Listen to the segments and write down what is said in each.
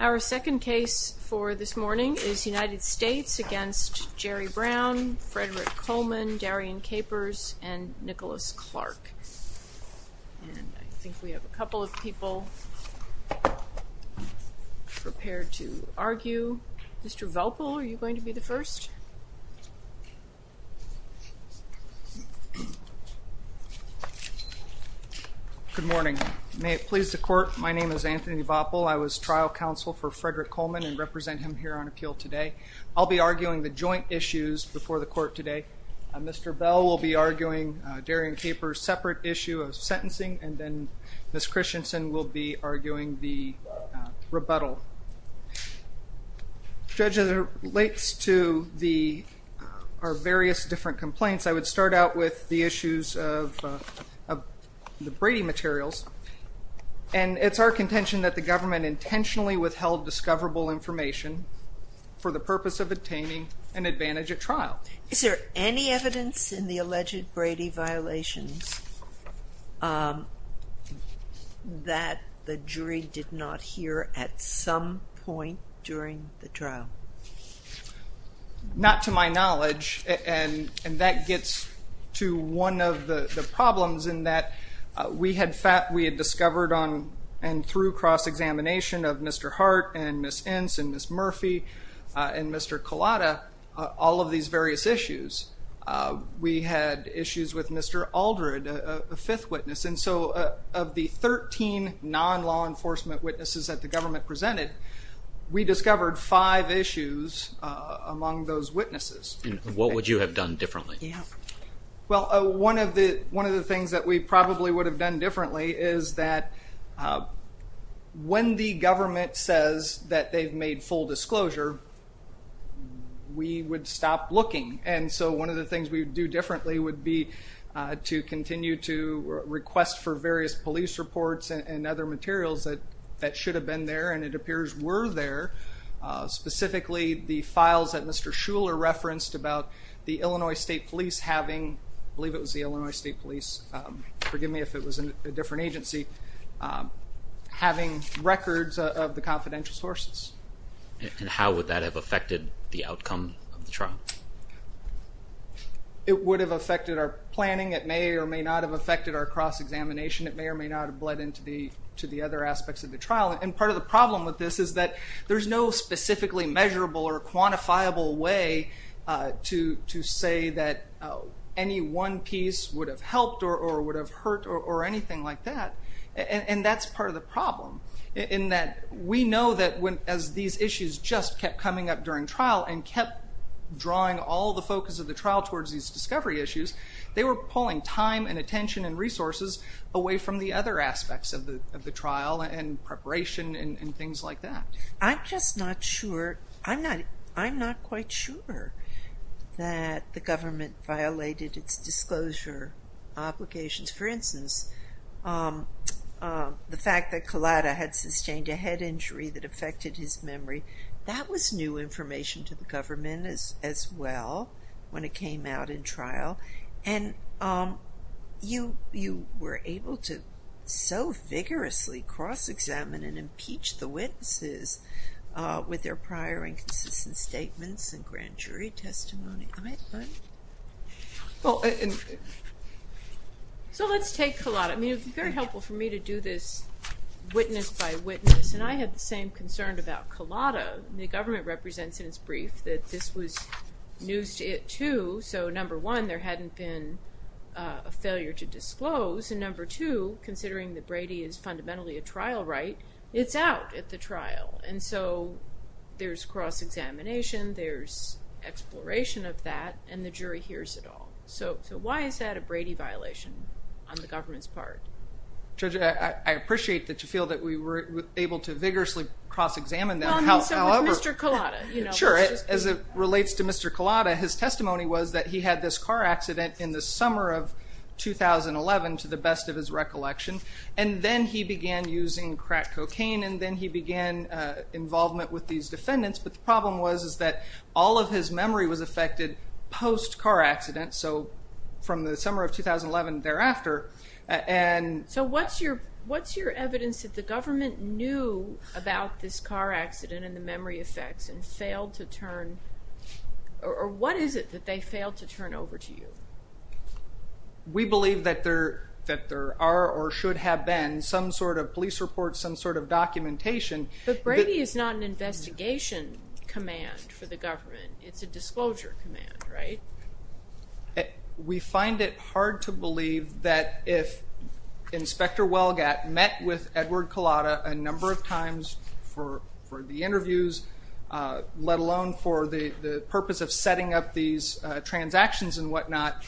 Our second case for this morning is United States v. Jerry Brown v. Frederick Coleman v. Darian Capers v. Nicholas Clark I think we have a couple of people prepared to argue. Mr. Vopel, are you going to be the first? Anthony Vopel Good morning. May it please the court, my name is Anthony Vopel. I was trial counsel for Frederick Coleman and represent him here on appeal today. I'll be arguing the joint issues before the court today. Mr. Bell will be arguing Darian Capers' separate issue of sentencing and then Ms. Christensen will be arguing the rebuttal. Judge, as it relates to our various different complaints, I would start out with the issues of the Brady materials. It's our contention that the government intentionally withheld discoverable information for the purpose of obtaining an advantage at trial. Is there any evidence in the alleged Brady violations that the jury did not hear at some point during the trial? Not to my knowledge and that gets to one of the problems in that we had discovered and through cross-examination of Mr. Hart and Ms. Ince and Ms. Murphy and Mr. Collada, all of these various issues. We had issues with Mr. Aldred, a fifth witness, and so of the 13 non-law enforcement witnesses that the government presented, we discovered five issues among those witnesses. What would you have done differently? One of the things that we probably would have done differently is that when the government says that they've made full disclosure, we would stop looking. One of the things we would do differently would be to continue to request for various police reports and other materials that should have been there and it appears were there. Specifically, the files that Mr. Shuler referenced about the Illinois State Police having, I believe it was the Illinois State Police, forgive me if it was a different agency, having records of the confidential sources. And how would that have affected the outcome of the trial? It would have affected our planning, it may or may not have affected our cross-examination, it may or may not have bled into the other aspects of the trial. And part of the problem with this is that there's no specifically measurable or quantifiable way to say that any one piece would have helped or would have hurt or anything like that. And that's part of the problem in that we know that as these issues just kept coming up during trial and kept drawing all the focus of the trial towards these discovery issues, they were pulling time and attention and resources away from the other aspects of the trial and preparation and things like that. I'm just not sure, I'm not quite sure that the government violated its disclosure obligations. For instance, the fact that Collada had sustained a head injury that affected his memory, that was new information to the government as well when it came out in trial. And you were able to so vigorously cross-examine and impeach the witnesses with their prior and consistent statements and grand jury testimony. So let's take Collada, I mean it would be very helpful for me to do this witness by witness and I had the same concern about Collada. The government represents in its brief that this was news to it too, so number one, there hadn't been a failure to disclose, and number two, considering that Brady is fundamentally a trial right, it's out at the trial. And so there's cross-examination, there's exploration of that, and the jury hears it all. So why is that a Brady violation on the government's part? Judge, I appreciate that you feel that we were able to vigorously cross-examine them, however... Well, I mean, so was Mr. Collada. Sure, as it relates to Mr. Collada, his testimony was that he had this car accident in the summer of 2011 to the best of his recollection, and then he began using crack cocaine and then he began involvement with these defendants, but the problem was that all of his memory was affected post-car accident, so from the summer of 2011 thereafter, and... So what's your evidence that the government knew about this car accident and the memory effects and failed to turn, or what is it that they failed to turn over to you? We believe that there are or should have been some sort of police report, some sort of documentation... But Brady is not an investigation command for the government, it's a disclosure command, right? We find it hard to believe that if Inspector Welgat met with Edward Collada a number of times for the interviews, let alone for the purpose of setting up these transactions and whatnot,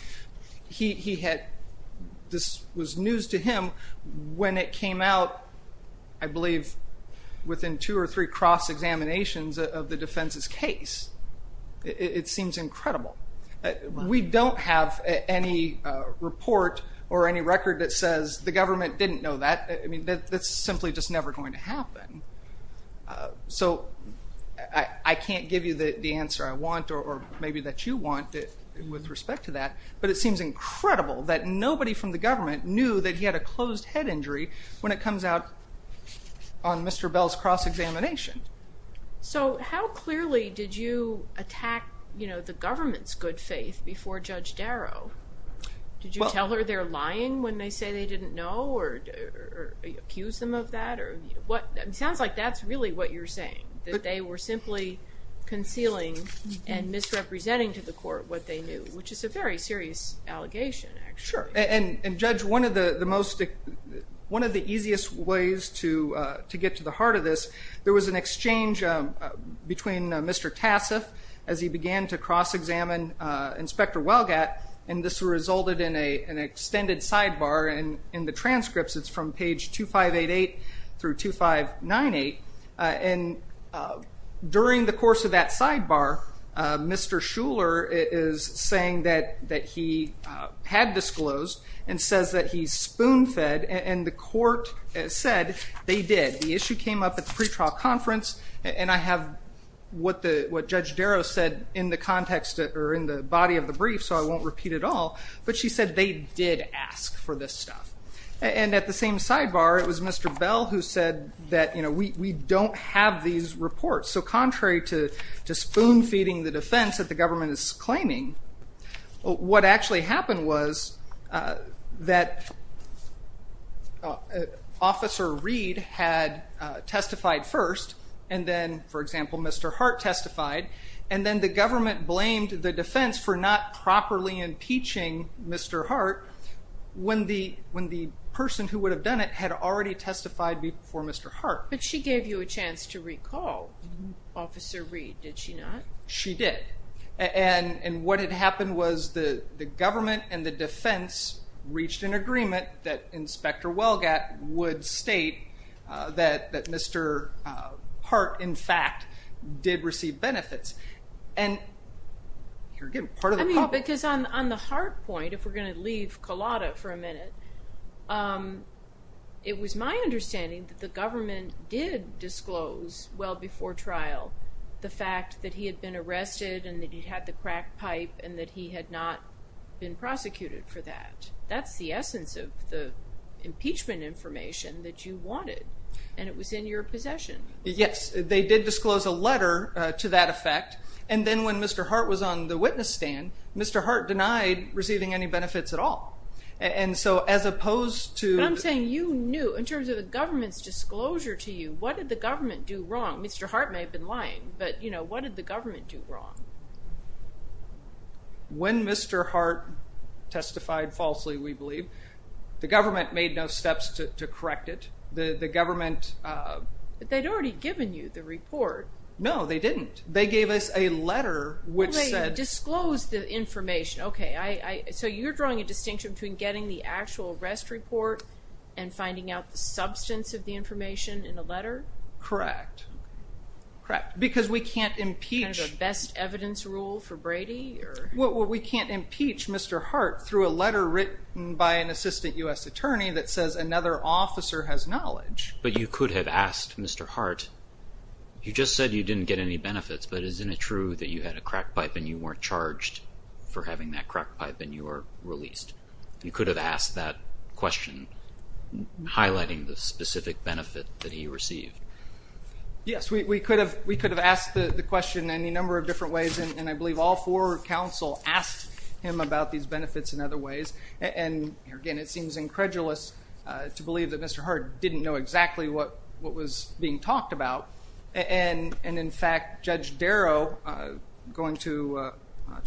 he had... This was news to him when it came out, I believe, within two or three cross-examinations of the defense's case. It seems incredible. We don't have any report or any record that says the government didn't know that. I mean, that's simply just never going to happen. So I can't give you the answer I want or maybe that you want with respect to that, but it seems incredible that nobody from the government knew that he had a closed head injury when it comes out on Mr. Bell's cross-examination. So how clearly did you attack the government's good faith before Judge Darrow? Did you tell her they're lying when they say they didn't know or accuse them of that? It sounds like that's really what you're saying, that they were simply concealing and misrepresenting to the court what they knew, which is a very serious allegation, actually. Sure, and Judge, one of the easiest ways to get to the heart of this, there was an exchange between Mr. Tassif as he began to cross-examine Inspector Welgat, and this resulted in an extended sidebar. In the transcripts, it's from page 2588 through 2598. And during the course of that sidebar, Mr. Shuler is saying that he had disclosed and says that he's spoon-fed, and the court said they did. The issue came up at the pretrial conference, and I have what Judge Darrow said in the context or in the body of the brief, so I won't repeat it all, but she said they did ask for this stuff. And at the same sidebar, it was Mr. Bell who said that we don't have these reports. So contrary to spoon-feeding the defense that the government is claiming, what actually happened was that Officer Reed had testified first, and then, for example, Mr. Hart testified, and then the government blamed the defense for not properly impeaching Mr. Hart when the person who would have done it had already testified before Mr. Hart. But she gave you a chance to recall Officer Reed, did she not? She did. And what had happened was the government and the defense reached an agreement that Inspector Welgat would state that Mr. Hart, in fact, did receive benefits. And here again, part of the problem... I mean, because on the Hart point, if we're going to leave Collada for a minute, it was my understanding that the government did disclose well before trial the fact that he had been arrested and that he had the crack pipe and that he had not been prosecuted for that. That's the essence of the impeachment information that you wanted, and it was in your possession. Yes, they did disclose a letter to that effect, and then when Mr. Hart was on the witness stand, Mr. Hart denied receiving any benefits at all. And so as opposed to... But I'm saying you knew. In terms of the government's disclosure to you, what did the government do wrong? Mr. Hart may have been lying, but what did the government do wrong? When Mr. Hart testified falsely, we believe, the government made no steps to correct it. The government... But they'd already given you the report. No, they didn't. They gave us a letter which said... Well, they disclosed the information. Okay, so you're drawing a distinction between getting the actual arrest report and finding out the substance of the information in the letter? Correct. Because we can't impeach... Kind of a best evidence rule for Brady? Well, we can't impeach Mr. Hart through a letter written by an assistant U.S. attorney that says another officer has knowledge. But you could have asked Mr. Hart, you just said you didn't get any benefits, but isn't it true that you had a crack pipe and you weren't charged for having that crack pipe and you were released? You could have asked that question, highlighting the specific benefit that he received. Yes, we could have asked the question any number of different ways, and I believe all four counsel asked him about these benefits in other ways. And, again, it seems incredulous to believe that Mr. Hart didn't know exactly what was being talked about. And, in fact, Judge Darrow, going to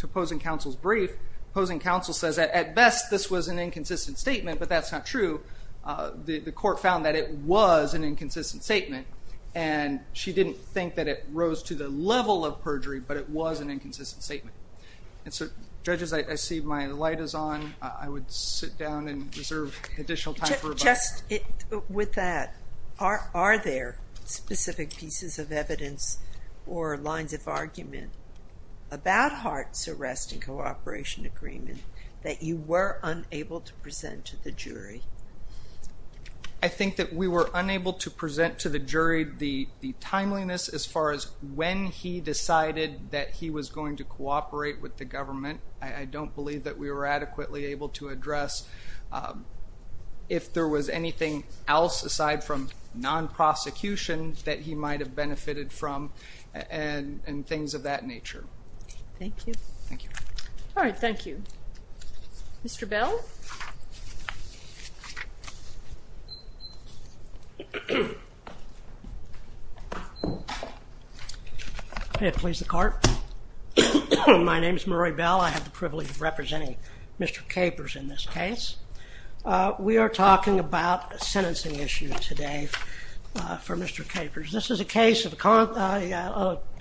opposing counsel's brief, opposing counsel says that at best this was an inconsistent statement, but that's not true. The court found that it was an inconsistent statement, and she didn't think that it rose to the level of perjury, but it was an inconsistent statement. And so, judges, I see my light is on. I would sit down and reserve additional time for rebuttal. Just with that, are there specific pieces of evidence or lines of argument about Hart's arrest and cooperation agreement that you were unable to present to the jury? I think that we were unable to present to the jury the timeliness as far as when he decided that he was going to cooperate with the government. I don't believe that we were adequately able to address if there was anything else aside from non-prosecution that he might have benefited from and things of that nature. Thank you. Thank you. All right, thank you. Mr. Bell? May it please the Court? My name is Murray Bell. I have the privilege of representing Mr. Capers in this case. We are talking about a sentencing issue today for Mr. Capers. This is a case of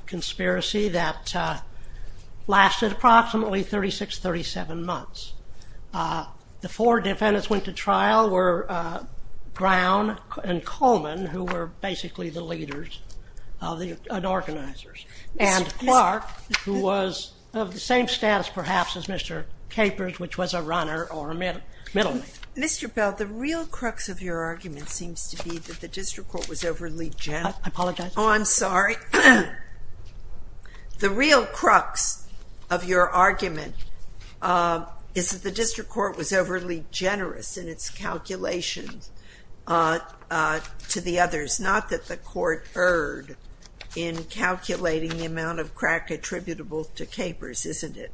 conspiracy that lasted approximately 36, 37 months. The four defendants went to trial were Brown and Coleman, who were basically the leaders and organizers, and Clark, who was of the same status perhaps as Mr. Capers, which was a runner or a middleman. Mr. Bell, the real crux of your argument seems to be that the district court was overly generous. I apologize. Oh, I'm sorry. The real crux of your argument is that the district court was overly generous in its calculations to the others, not that the court erred in calculating the amount of crack attributable to Capers, isn't it?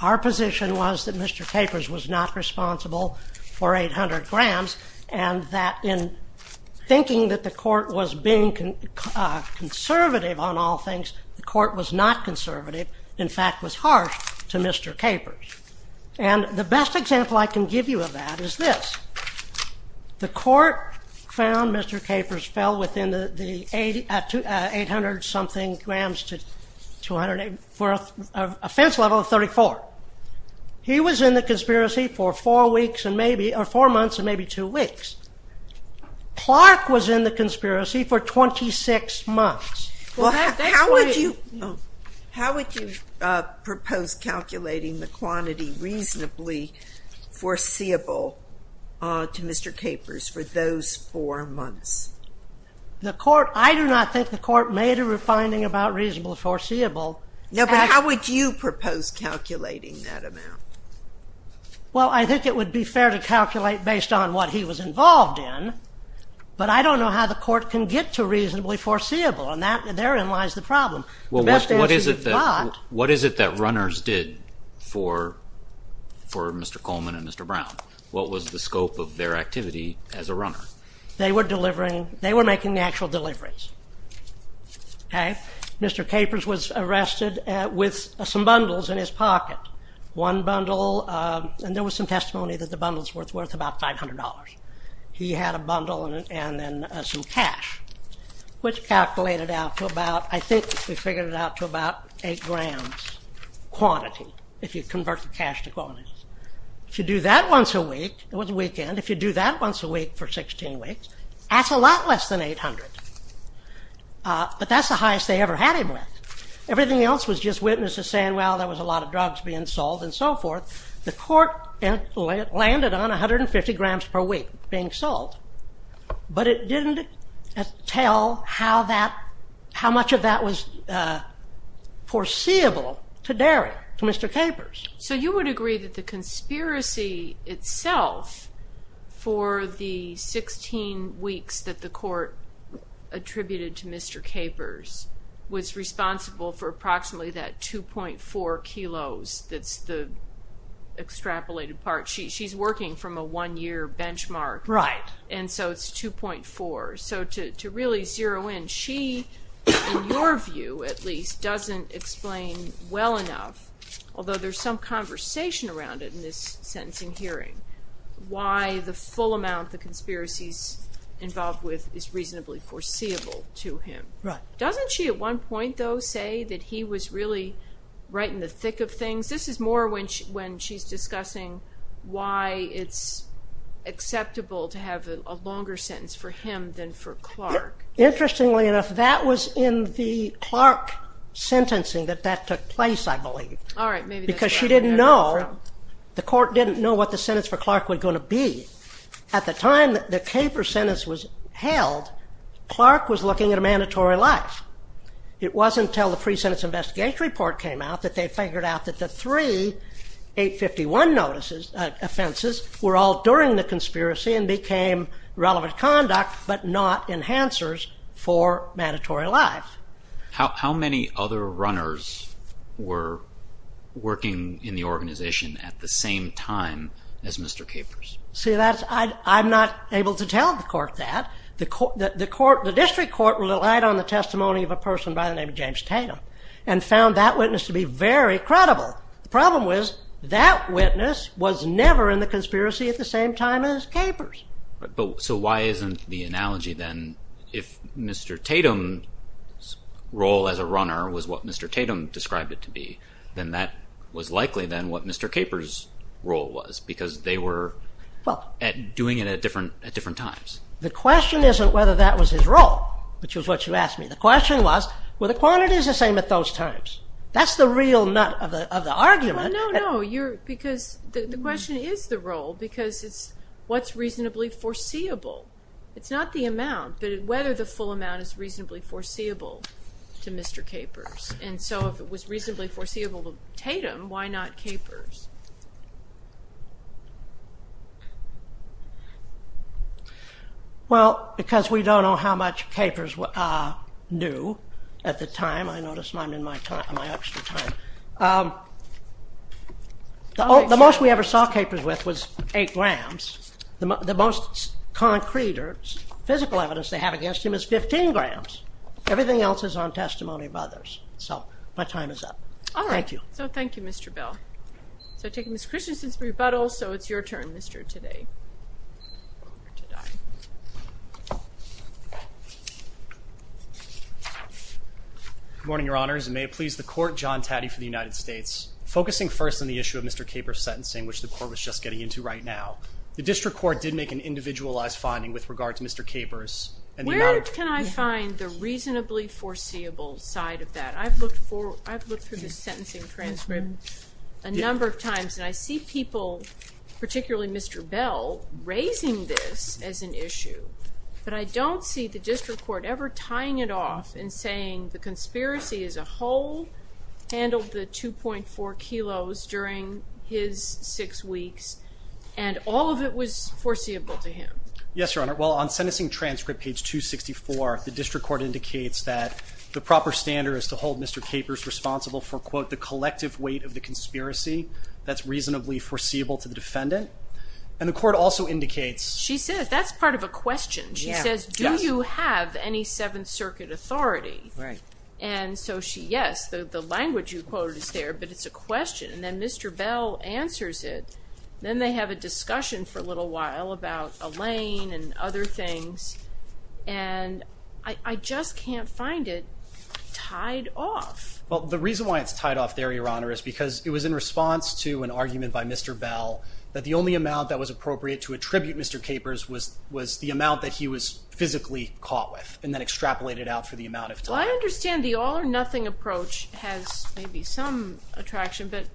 Our position was that Mr. Capers was not responsible for 800 grams and that in thinking that the court was being conservative on all things, the court was not conservative. In fact, it was harsh to Mr. Capers. And the best example I can give you of that is this. The court found Mr. Capers fell within the 800-something grams to a fence level of 34. He was in the conspiracy for four months and maybe two weeks. Clark was in the conspiracy for 26 months. How would you propose calculating the quantity reasonably foreseeable to Mr. Capers for those four months? I do not think the court made a finding about reasonable foreseeable. No, but how would you propose calculating that amount? Well, I think it would be fair to calculate based on what he was involved in, but I don't know how the court can get to reasonably foreseeable, and therein lies the problem. Well, what is it that runners did for Mr. Coleman and Mr. Brown? What was the scope of their activity as a runner? They were making the actual deliveries. Mr. Capers was arrested with some bundles in his pocket. One bundle, and there was some testimony that the bundle was worth about $500. He had a bundle and then some cash, which calculated out to about, I think we figured it out to about 8 grams quantity, if you convert the cash to quantities. If you do that once a week, it was a weekend, if you do that once a week for 16 weeks, that's a lot less than 800. But that's the highest they ever had him with. Everything else was just witnesses saying, well, there was a lot of drugs being sold and so forth. The court landed on 150 grams per week being sold, but it didn't tell how much of that was foreseeable to Mr. Capers. So you would agree that the conspiracy itself for the 16 weeks that the court attributed to Mr. Capers was responsible for approximately that 2.4 kilos that's the extrapolated part. She's working from a one-year benchmark, and so it's 2.4. So to really zero in, she, in your view at least, doesn't explain well enough, although there's some conversation around it in this sentencing hearing, why the full amount the conspiracy is involved with is reasonably foreseeable to him. Doesn't she at one point, though, say that he was really right in the thick of things? This is more when she's discussing why it's acceptable to have a longer sentence for him than for Clark. Interestingly enough, that was in the Clark sentencing that that took place, I believe. Because she didn't know, the court didn't know what the sentence for Clark was going to be. At the time that the Capers sentence was held, Clark was looking at a mandatory life. It wasn't until the pre-sentence investigation report came out that they figured out that the three 851 notices, offenses, were all during the conspiracy and became relevant conduct, but not enhancers for mandatory life. How many other runners were working in the organization at the same time as Mr. Capers? See, I'm not able to tell the court that. The district court relied on the testimony of a person by the name of James Tatum and found that witness to be very credible. The problem was that witness was never in the conspiracy at the same time as Capers. So why isn't the analogy then, if Mr. Tatum's role as a runner was what Mr. Tatum described it to be, then that was likely then what Mr. Capers' role was, because they were doing it at different times. The question isn't whether that was his role, which is what you asked me. The question was, were the quantities the same at those times? That's the real nut of the argument. No, no, no, because the question is the role, because it's what's reasonably foreseeable. It's not the amount, but whether the full amount is reasonably foreseeable to Mr. Capers. And so if it was reasonably foreseeable to Tatum, why not Capers? Well, because we don't know how much Capers knew at the time. I notice I'm in my extra time. The most we ever saw Capers with was 8 grams. The most concrete or physical evidence they have against him is 15 grams. Everything else is on testimony of others. So my time is up. Thank you. So thank you, Mr. Bell. So I take Ms. Christensen's rebuttal, so it's your turn, Mr. Taddei. Good morning, Your Honors. May it please the Court, John Taddei for the United States. Focusing first on the issue of Mr. Capers' sentencing, which the Court was just getting into right now, the District Court did make an individualized finding with regard to Mr. Capers. Where can I find the reasonably foreseeable side of that? I've looked through the sentencing transcript a number of times, and I see people, particularly Mr. Bell, raising this as an issue. But I don't see the District Court ever tying it off and saying the conspiracy as a whole handled the 2.4 kilos during his six weeks, and all of it was foreseeable to him. Yes, Your Honor. Well, on sentencing transcript, page 264, the District Court indicates that the proper standard is to hold Mr. Capers responsible for, quote, the collective weight of the conspiracy that's reasonably foreseeable to the defendant. And the Court also indicates… She says, that's part of a question. She says, do you have any Seventh Circuit authority? Right. And so she, yes, the language you quoted is there, but it's a question. And then Mr. Bell answers it. Then they have a discussion for a little while about Elaine and other things. And I just can't find it tied off. Well, the reason why it's tied off there, Your Honor, is because it was in response to an argument by Mr. Bell that the only amount that was appropriate to attribute Mr. Capers was the amount that he was physically caught with, and then extrapolated out for the amount of time. Well, I understand the all-or-nothing approach has maybe some attraction, but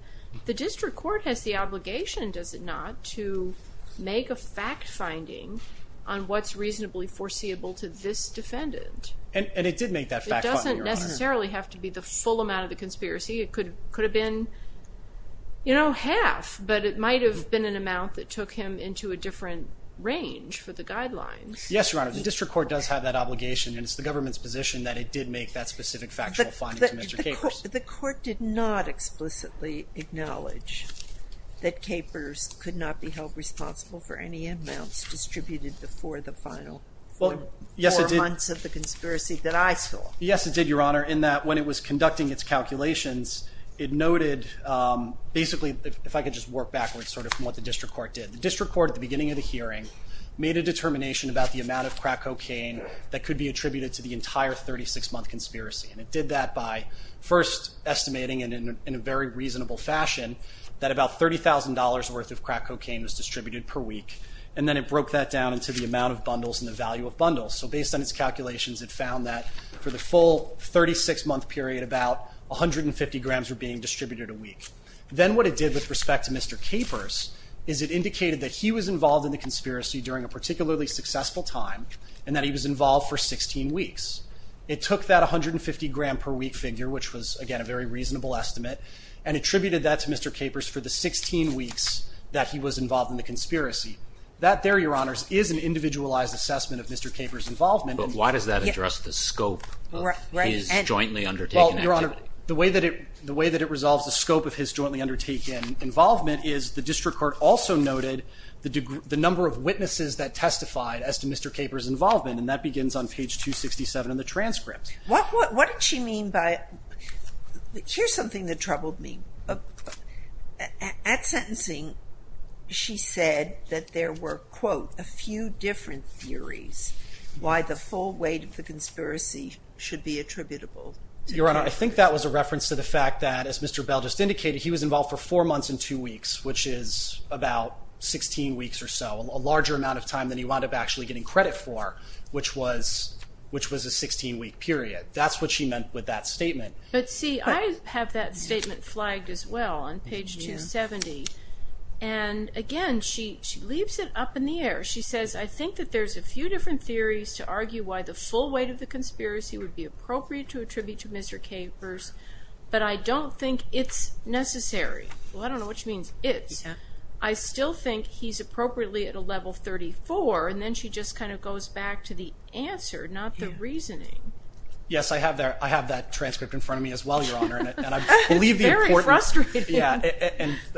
the District Court has the obligation, does it not, to make a fact-finding on what's reasonably foreseeable to this defendant? And it did make that fact-finding, Your Honor. It doesn't necessarily have to be the full amount of the conspiracy. It could have been, you know, half, but it might have been an amount that took him into a different range for the guidelines. Yes, Your Honor, the District Court does have that obligation, and it's the government's position that it did make that specific factual finding to Mr. Capers. The court did not explicitly acknowledge that Capers could not be held responsible for any amounts distributed before the final four months of the conspiracy that I saw. Yes, it did, Your Honor, in that when it was conducting its calculations, it noted basically, if I could just work backwards, sort of from what the District Court did. The District Court, at the beginning of the hearing, made a determination about the amount of crack cocaine that could be attributed to the entire 36-month conspiracy, and it did that by first estimating in a very reasonable fashion that about $30,000 worth of crack cocaine was distributed per week, and then it broke that down into the amount of bundles and the value of bundles. So based on its calculations, it found that for the full 36-month period, about 150 grams were being distributed a week. Then what it did with respect to Mr. Capers is it indicated that he was involved in the conspiracy during a particularly successful time, and that he was involved for 16 weeks. It took that 150-gram-per-week figure, which was, again, a very reasonable estimate, and attributed that to Mr. Capers for the 16 weeks that he was involved in the conspiracy. That there, Your Honors, is an individualized assessment of Mr. Capers' involvement. But why does that address the scope of his jointly undertaken activity? Well, Your Honor, the way that it resolves the scope of his jointly undertaken involvement is the District Court also noted the number of witnesses that testified as to Mr. Capers' involvement, and that begins on page 267 in the transcript. What did she mean by it? Here's something that troubled me. At sentencing, she said that there were, quote, a few different theories why the full weight of the conspiracy should be attributable to Capers. Your Honor, I think that was a reference to the fact that, as Mr. Bell just indicated, he was involved for 4 months and 2 weeks, which is about 16 weeks or so, a larger amount of time than he wound up actually getting credit for, which was a 16-week period. That's what she meant with that statement. But see, I have that statement flagged as well on page 270. And again, she leaves it up in the air. She says, I think that there's a few different theories to argue why the full weight of the conspiracy would be appropriate to attribute to Mr. Capers, but I don't think it's necessary. Well, I don't know which means it's. I still think he's appropriately at a level 34, and then she just kind of goes back to the answer, not the reasoning. Yes, I have that transcript in front of me as well, Your Honor. It's very frustrating. Yeah,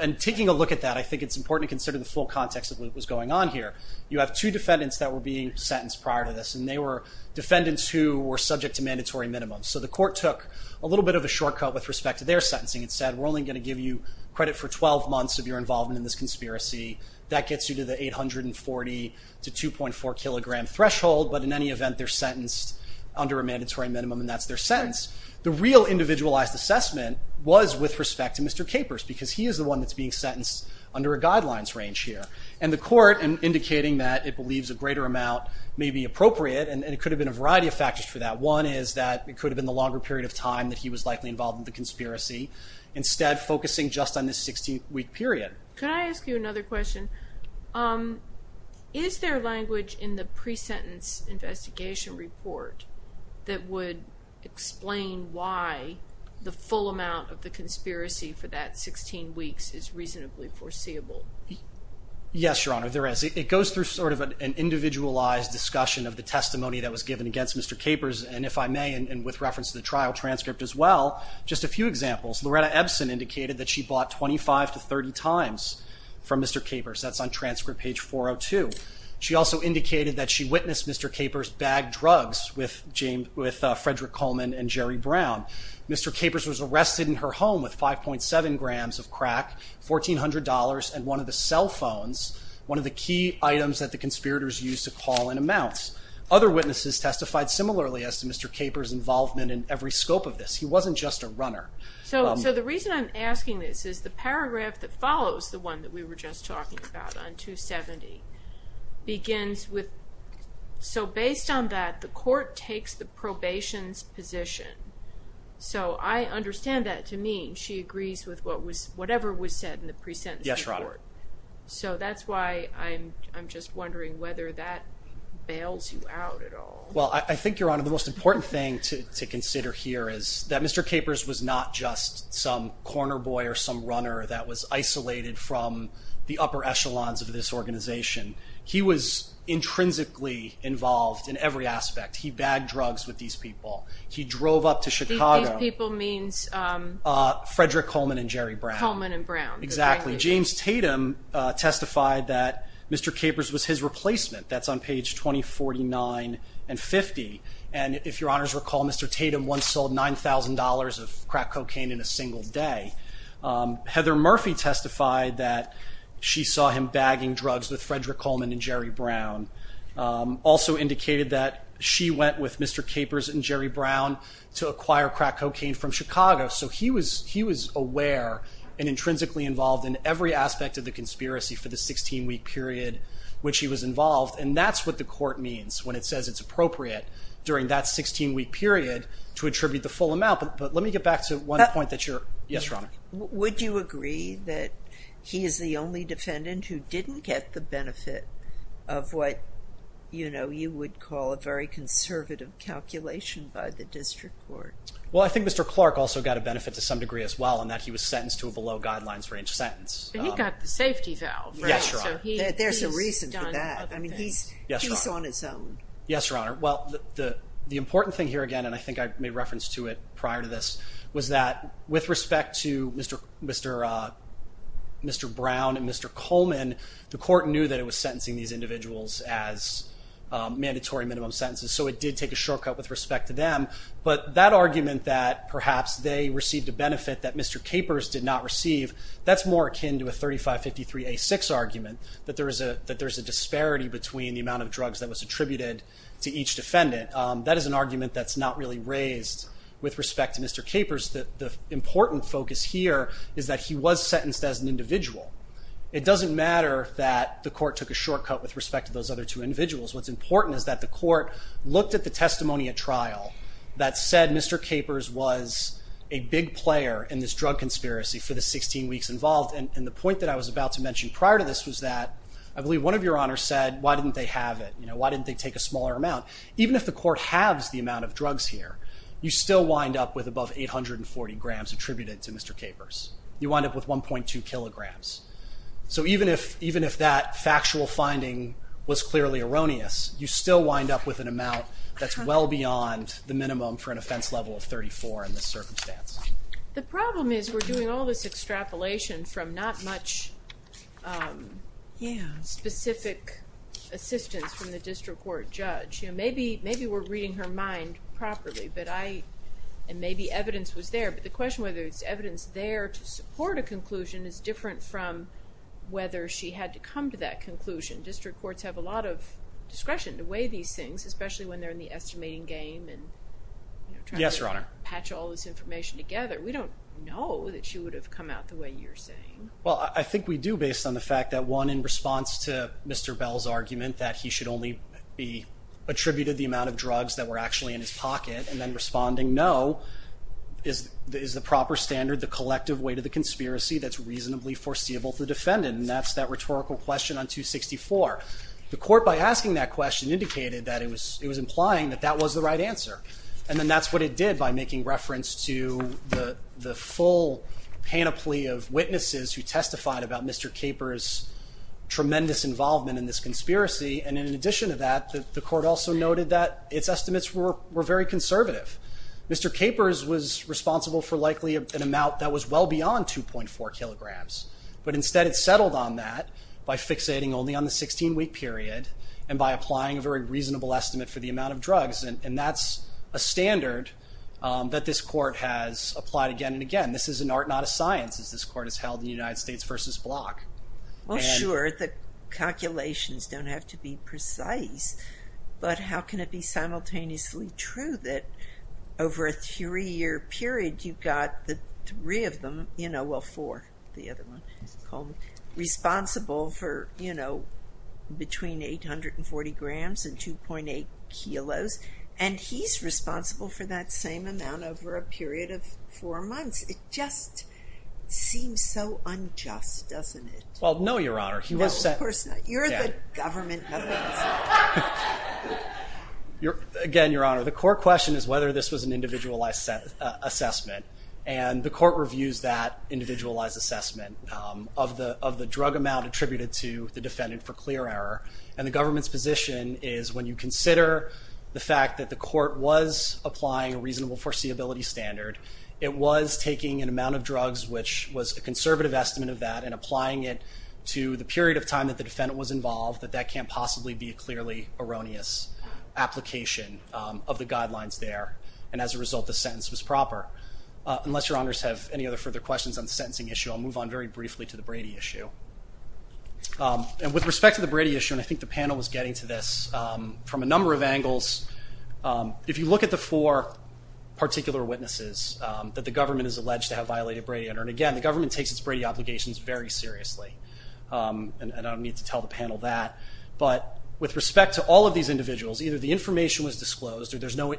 and taking a look at that, I think it's important to consider the full context of what was going on here. You have 2 defendants that were being sentenced prior to this, and they were defendants who were subject to mandatory minimums. So the court took a little bit of a shortcut with respect to their sentencing and said, we're only going to give you credit for 12 months of your involvement in this conspiracy. That gets you to the 840 to 2.4 kilogram threshold, but in any event, they're sentenced under a mandatory minimum, and that's their sentence. The real individualized assessment was with respect to Mr. Capers, because he is the one that's being sentenced under a guidelines range here. And the court, indicating that it believes a greater amount may be appropriate, and it could have been a variety of factors for that. One is that it could have been the longer period of time that he was likely involved in the conspiracy, instead focusing just on the 16-week period. Can I ask you another question? Is there language in the pre-sentence investigation report that would explain why the full amount of the conspiracy for that 16 weeks is reasonably foreseeable? Yes, Your Honor, there is. It goes through sort of an individualized discussion of the testimony that was given against Mr. Capers, and if I may, and with reference to the trial transcript as well, just a few examples. Loretta Ebsen indicated that she bought 25 to 30 times from Mr. Capers. That's on transcript page 402. She also indicated that she witnessed Mr. Capers bag drugs with Frederick Coleman and Jerry Brown. Mr. Capers was arrested in her home with 5.7 grams of crack, $1,400, and one of the cell phones, one of the key items that the conspirators used to call in amounts. Other witnesses testified similarly as to Mr. Capers' involvement in every scope of this. He wasn't just a runner. So the reason I'm asking this is the paragraph that follows the one that we were just talking about on 270 begins with, so based on that, the court takes the probation's position. So I understand that to mean she agrees with whatever was said in the pre-sentence report. Yes, Your Honor. So that's why I'm just wondering whether that bails you out at all. Well, I think, Your Honor, the most important thing to consider here is that Mr. Capers was not just some corner boy or some runner that was isolated from the upper echelons of this organization. He was intrinsically involved in every aspect. He bagged drugs with these people. He drove up to Chicago. These people means? Frederick Coleman and Jerry Brown. Coleman and Brown. Exactly. James Tatum testified that Mr. Capers was his replacement. That's on page 2049 and 50. And if Your Honors recall, Mr. Tatum once sold $9,000 of crack cocaine in a single day. Heather Murphy testified that she saw him bagging drugs with Frederick Coleman and Jerry Brown. Also indicated that she went with Mr. Capers and Jerry Brown to acquire crack cocaine from Chicago. So he was aware and intrinsically involved in every aspect of the conspiracy for the 16-week period which he was involved. And that's what the court means when it says it's appropriate during that 16-week period to attribute the full amount. But let me get back to one point that you're… Yes, Your Honor. Would you agree that he is the only defendant who didn't get the benefit of what, you know, you would call a very conservative calculation by the district court? Well, I think Mr. Clark also got a benefit to some degree as well in that he was sentenced to a below guidelines range sentence. He got the safety valve, right? Yes, Your Honor. There's a reason for that. I mean, he's on his own. Yes, Your Honor. Well, the important thing here again, and I think I made reference to it prior to this, was that with respect to Mr. Brown and Mr. Coleman, the court knew that it was sentencing these individuals as mandatory minimum sentences. So it did take a shortcut with respect to them. But that argument that perhaps they received a benefit that Mr. Capers did not receive, that's more akin to a 3553A6 argument, that there's a disparity between the amount of drugs that was attributed to each defendant. That is an argument that's not really raised with respect to Mr. Capers. The important focus here is that he was sentenced as an individual. It doesn't matter that the court took a shortcut with respect to those other two individuals. What's important is that the court looked at the testimony at trial that said Mr. Capers was a big player in this drug conspiracy for the 16 weeks involved. And the point that I was about to mention prior to this was that I believe one of Your Honors said, why didn't they have it? Why didn't they take a smaller amount? Even if the court halves the amount of drugs here, you still wind up with above 840 grams attributed to Mr. Capers. You wind up with 1.2 kilograms. So even if that factual finding was clearly erroneous, you still wind up with an amount that's well beyond the minimum for an offense level of 34 in this circumstance. The problem is we're doing all this extrapolation from not much specific assistance from the district court judge. Maybe we're reading her mind properly, and maybe evidence was there, but the question whether there's evidence there to support a conclusion is different from whether she had to come to that conclusion. District courts have a lot of discretion to weigh these things, especially when they're in the estimating game and trying to patch all this information together. We don't know that she would have come out the way you're saying. Well, I think we do based on the fact that one, in response to Mr. Bell's argument that he should only be attributed the amount of drugs that were actually in his pocket, and then responding no is the proper standard, the collective weight of the conspiracy that's reasonably foreseeable to the defendant, and that's that rhetorical question on 264. The court, by asking that question, indicated that it was implying that that was the right answer, and then that's what it did by making reference to the full panoply of witnesses who testified about Mr. Capers' tremendous involvement in this conspiracy, and in addition to that, the court also noted that its estimates were very conservative. Mr. Capers was responsible for likely an amount that was well beyond 2.4 kilograms, but instead it settled on that by fixating only on the 16-week period and by applying a very reasonable estimate for the amount of drugs, and that's a standard that this court has applied again and again. This is an art, not a science, as this court has held in the United States v. Block. Well, sure, the calculations don't have to be precise, but how can it be simultaneously true that over a three-year period you've got the three of them, you know, well, four, the other one, responsible for, you know, between 840 grams and 2.8 kilos, and he's responsible for that same amount over a period of four months? It just seems so unjust, doesn't it? Well, no, Your Honor. No, of course not. You're the government evidence. Again, Your Honor, the court question is whether this was an individualized assessment, and the court reviews that individualized assessment of the drug amount attributed to the defendant for clear error, and the government's position is when you consider the fact that the court was applying a reasonable foreseeability standard, it was taking an amount of drugs, which was a conservative estimate of that, and applying it to the period of time that the defendant was involved, that that can't possibly be a clearly erroneous application of the guidelines there, and as a result, the sentence was proper. Unless Your Honors have any other further questions on the sentencing issue, I'll move on very briefly to the Brady issue. And with respect to the Brady issue, and I think the panel was getting to this from a number of angles, if you look at the four particular witnesses that the government has alleged to have violated Brady, and again, the government takes its Brady obligations very seriously, and I don't need to tell the panel that, but with respect to all of these individuals, either the information was disclosed or there's no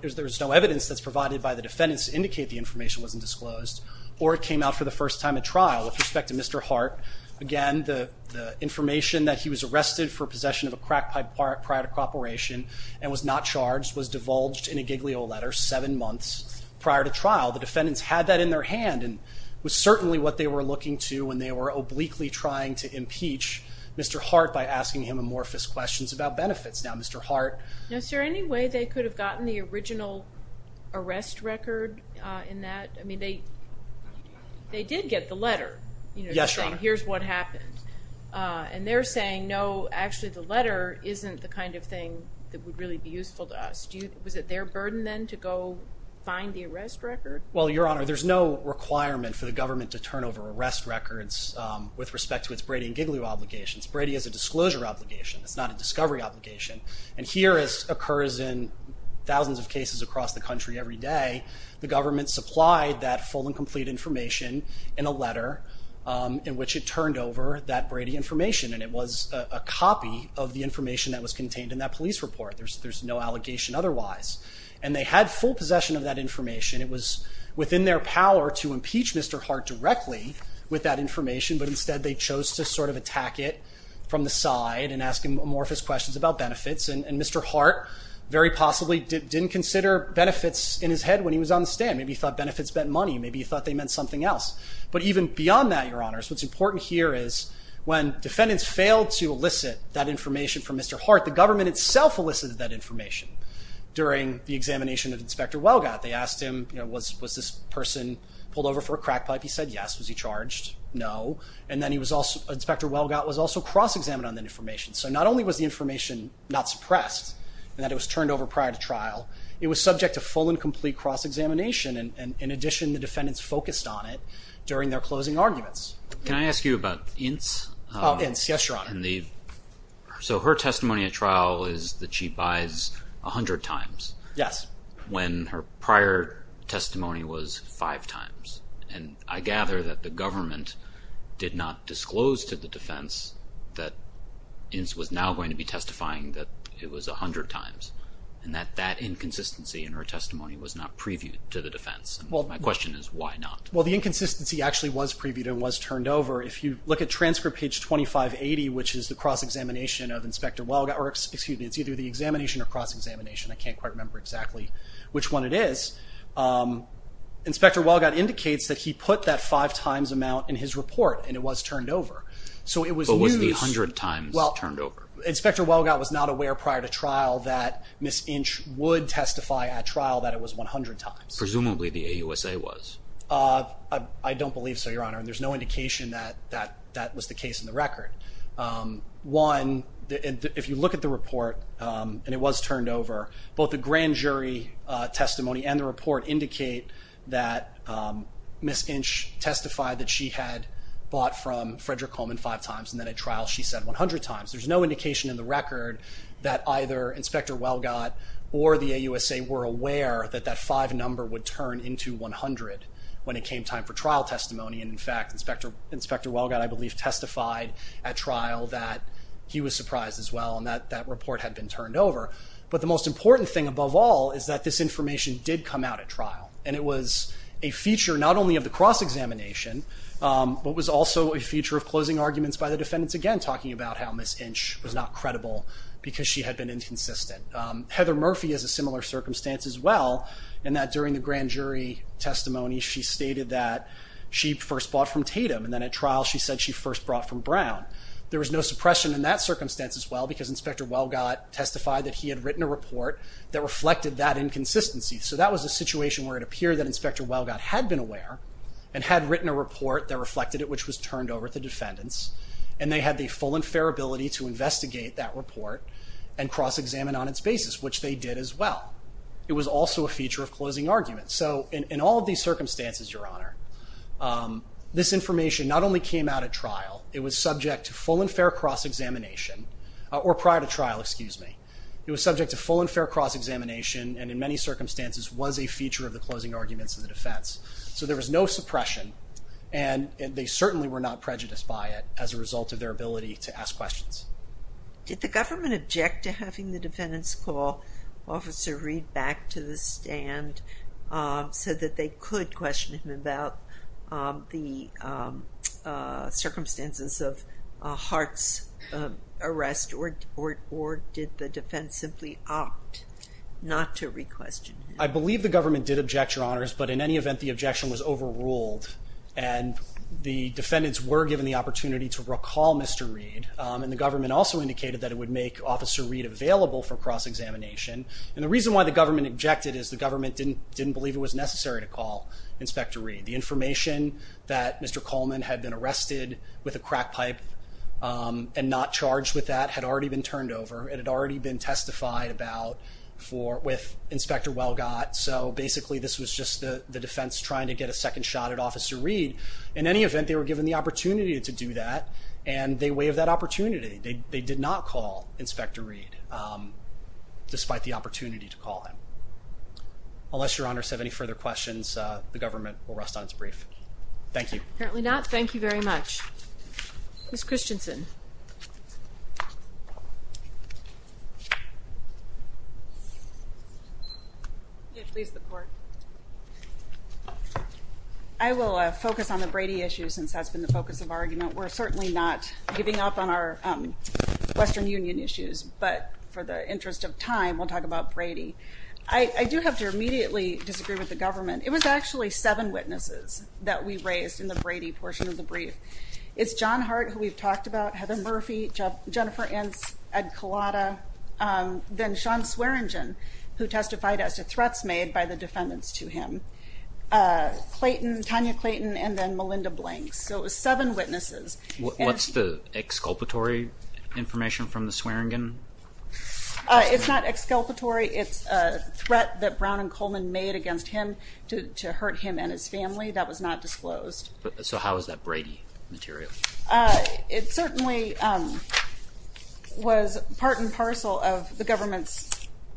evidence that's provided by the defendants to indicate the information wasn't disclosed, or it came out for the first time at trial. With respect to Mr. Hart, again, the information that he was arrested for possession of a crack pipe prior to cooperation and was not charged was divulged in a giglio letter seven months prior to trial. The defendants had that in their hand and was certainly what they were looking to when they were obliquely trying to impeach Mr. Hart by asking him amorphous questions about benefits. Now, Mr. Hart... Now, is there any way they could have gotten the original arrest record in that? I mean, they did get the letter, saying, here's what happened. And they're saying, no, actually, the letter isn't the kind of thing that would really be useful to us. Was it their burden, then, to go find the arrest record? Well, Your Honour, there's no requirement for the government to turn over arrest records with respect to its Brady and giglio obligations. Brady is a disclosure obligation. It's not a discovery obligation. And here, as occurs in thousands of cases across the country every day, the government supplied that full and complete information in a letter in which it turned over that Brady information. And it was a copy of the information that was contained in that police report. There's no allegation otherwise. And they had full possession of that information. It was within their power to impeach Mr. Hart directly with that information, but instead they chose to sort of attack it from the side and ask him amorphous questions about benefits. And Mr. Hart very possibly didn't consider benefits in his head when he was on the stand. Maybe he thought benefits meant money. Maybe he thought they meant something else. But even beyond that, Your Honour, what's important here is when defendants failed to elicit that information from Mr. Hart, the government itself elicited that information during the examination of Inspector Welgott. They asked him, you know, was this person pulled over for a crack pipe? He said yes. Was he charged? No. And then he was also... Inspector Welgott was also cross-examined on that information. So not only was the information not suppressed and that it was turned over prior to trial, it was subject to full and complete cross-examination. And in addition, the defendants focused on it during their closing arguments. Can I ask you about Ince? Oh, Ince. Yes, Your Honour. So her testimony at trial is that she buys 100 times. Yes. When her prior testimony was five times. And I gather that the government did not disclose to the defense that Ince was now going to be testifying that it was 100 times, and that that inconsistency in her testimony was not previewed to the defense. My question is, why not? Well, the inconsistency actually was previewed and was turned over. If you look at transcript page 2580, which is the cross-examination of Inspector Welgott, or excuse me, it's either the examination or cross-examination, I can't quite remember exactly which one it is. Inspector Welgott indicates that he put that five times amount in his report, and it was turned over. So it was news. But was the 100 times turned over? Inspector Welgott was not aware prior to trial that Ms. Ince would testify at trial that it was 100 times. Presumably the AUSA was. I don't believe so, Your Honour, and there's no indication that that was the case in the record. and it was turned over, both the grand jury testimony and the report indicate that Ms. Ince testified that she had bought from Frederick Coleman five times and then at trial she said 100 times. There's no indication in the record that either Inspector Welgott or the AUSA were aware that that five number would turn into 100 when it came time for trial testimony, and in fact, Inspector Welgott, I believe, testified at trial that he was surprised as well and that report had been turned over. But the most important thing above all is that this information did come out at trial and it was a feature not only of the cross-examination but was also a feature of closing arguments by the defendants again, talking about how Ms. Ince was not credible because she had been inconsistent. Heather Murphy has a similar circumstance as well in that during the grand jury testimony she stated that she first bought from Tatum and then at trial she said she first brought from Brown. There was no suppression in that circumstance as well because Inspector Welgott testified that he had written a report that reflected that inconsistency. So that was a situation where it appeared that Inspector Welgott had been aware and had written a report that reflected it, which was turned over to defendants, and they had the full and fair ability to investigate that report and cross-examine on its basis, which they did as well. It was also a feature of closing arguments. So in all of these circumstances, Your Honor, this information not only came out at trial, it was subject to full and fair cross-examination or prior to trial, excuse me. It was subject to full and fair cross-examination and in many circumstances was a feature of the closing arguments of the defense. So there was no suppression and they certainly were not prejudiced by it as a result of their ability to ask questions. Did the government object to having the defendant's call officer read back to the stand so that they could question him about the circumstances of Hart's arrest or did the defense simply opt not to re-question him? I believe the government did object, Your Honors, but in any event, the objection was overruled and the defendants were given the opportunity to recall Mr. Reed, and the government also indicated that it would make Officer Reed available for cross-examination. And the reason why the government objected is the government didn't believe it was necessary to call Inspector Reed. The information that Mr. Coleman had been arrested with a crack pipe and not charged with that had already been turned over. It had already been testified about with Inspector Welgot. So basically this was just the defense trying to get a second shot at Officer Reed. In any event, they were given the opportunity to do that and they waived that opportunity. They did not call Inspector Reed despite the opportunity to call him. Unless Your Honors have any further questions, the government will rest on its brief. Thank you. Apparently not. Thank you very much. Ms. Christensen. I will focus on the Brady issue since that's been the focus of argument. We're certainly not giving up on our Western Union issues, but for the interest of time, we'll talk about Brady. I do have to immediately disagree with the government. It was actually seven witnesses that we raised in the Brady portion of the brief. It's John Hart, who we've talked about, Heather Murphy, Jennifer Ince, Ed Collada, then Shawn Swearingen, who testified as to threats made by the defendants to him, Clayton, Tanya Clayton, and then Melinda Blanks. So it was seven witnesses. What's the exculpatory information from the Swearingen? It's not exculpatory. It's a threat that Brown and Coleman made against him to hurt him and his family. That was not disclosed. So how is that Brady material? It certainly was part and parcel of the government's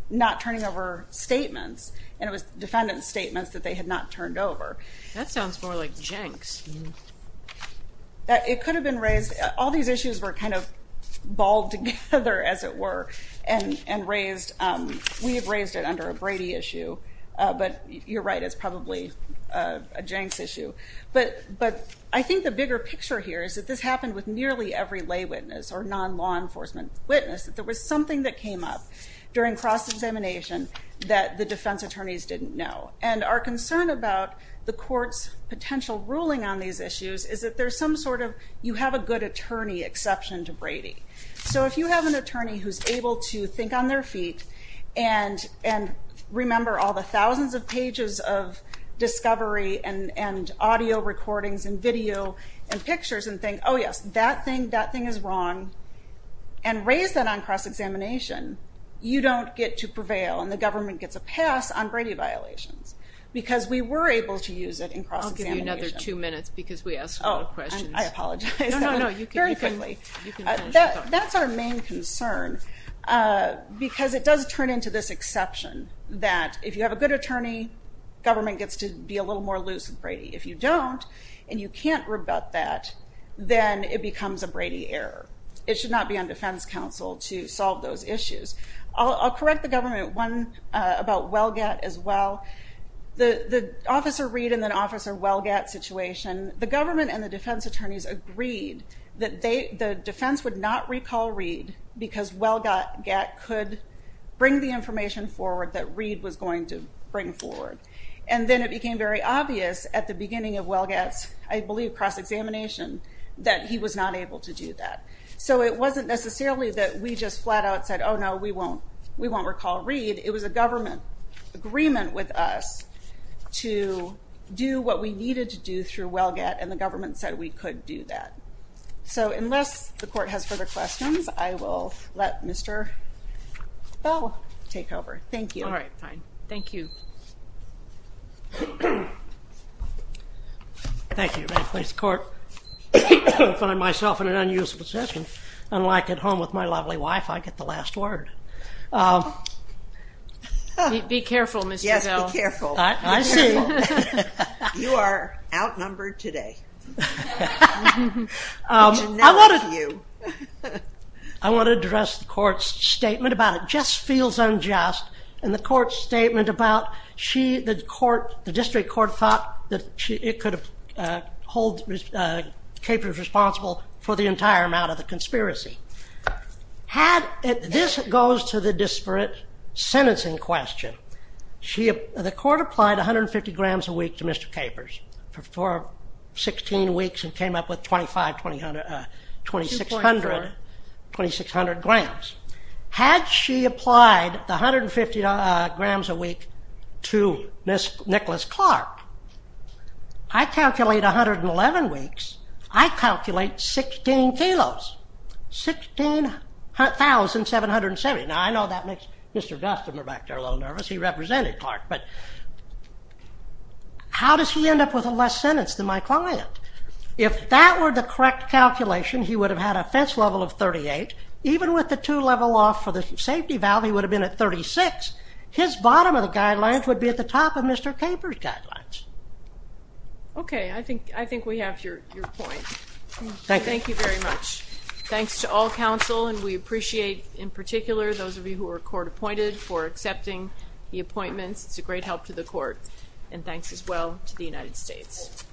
not turning over statements, and it was defendants' statements that they had not turned over. That sounds more like Jenks. It could have been raised... All these issues were kind of balled together, as it were, and raised... We have raised it under a Brady issue, but you're right, it's probably a Jenks issue. But I think the bigger picture here is that this happened with nearly every lay witness or non-law enforcement witness, that there was something that came up during cross-examination that the defense attorneys didn't know. And our concern about the court's potential ruling on these issues is that there's some sort of you-have-a-good-attorney exception to Brady. So if you have an attorney who's able to think on their feet and remember all the thousands of pages of discovery and audio recordings and video and pictures and think, oh yes, that thing, that thing is wrong, and raise that on cross-examination, you don't get to prevail, and the government gets a pass on Brady violations, because we were able to use it in cross-examination. I'll give you another two minutes, because we asked a lot of questions. Oh, I apologize. No, no, no, you can finish your talk. That's our main concern, because it does turn into this exception that if you have a good attorney, government gets to be a little more loose with Brady. If you don't, and you can't rebut that, then it becomes a Brady error. It should not be on defense counsel to solve those issues. I'll correct the government one about Welgat as well. The Officer Reed and then Officer Welgat situation, the government and the defense attorneys agreed that the defense would not recall Reed because Welgat could bring the information forward that Reed was going to bring forward. And then it became very obvious at the beginning of Welgat's, I believe, cross-examination that he was not able to do that. So it wasn't necessarily that we just flat-out said, oh, no, we won't recall Reed. It was a government agreement with us to do what we needed to do through Welgat, and the government said we could do that. So unless the court has further questions, I will let Mr. Bell take over. Thank you. All right, fine. Thank you. Thank you. May it please the court. I find myself in an unusual position. Unlike at home with my lovely wife, I get the last word. Be careful, Mr. Bell. Yes, be careful. I see. You are outnumbered today. That's enough of you. I want to address the court's statement about it. It just feels unjust. And the court's statement about the district court thought that it could hold Capers responsible for the entire amount of the conspiracy. This goes to the disparate sentencing question. The court applied 150 grams a week to Mr. Capers for 16 weeks and came up with 2,600 grams. Had she applied the 150 grams a week to Ms. Nicholas Clark, I calculate 111 weeks, I calculate 16 kilos, 16,770. Now, I know that makes Mr. Destler back there a little nervous. He represented Clark. But how does he end up with a less sentence than my client? If that were the correct calculation, he would have had a fence level of 38. Even with the two level off for the safety valve, he would have been at 36. His bottom of the guidelines would be at the top of Mr. Capers' guidelines. Okay, I think we have your point. Thank you very much. Thanks to all counsel, and we appreciate, in particular, those of you who were court appointed for accepting the appointments. It's a great help to the court. And thanks as well to the United States.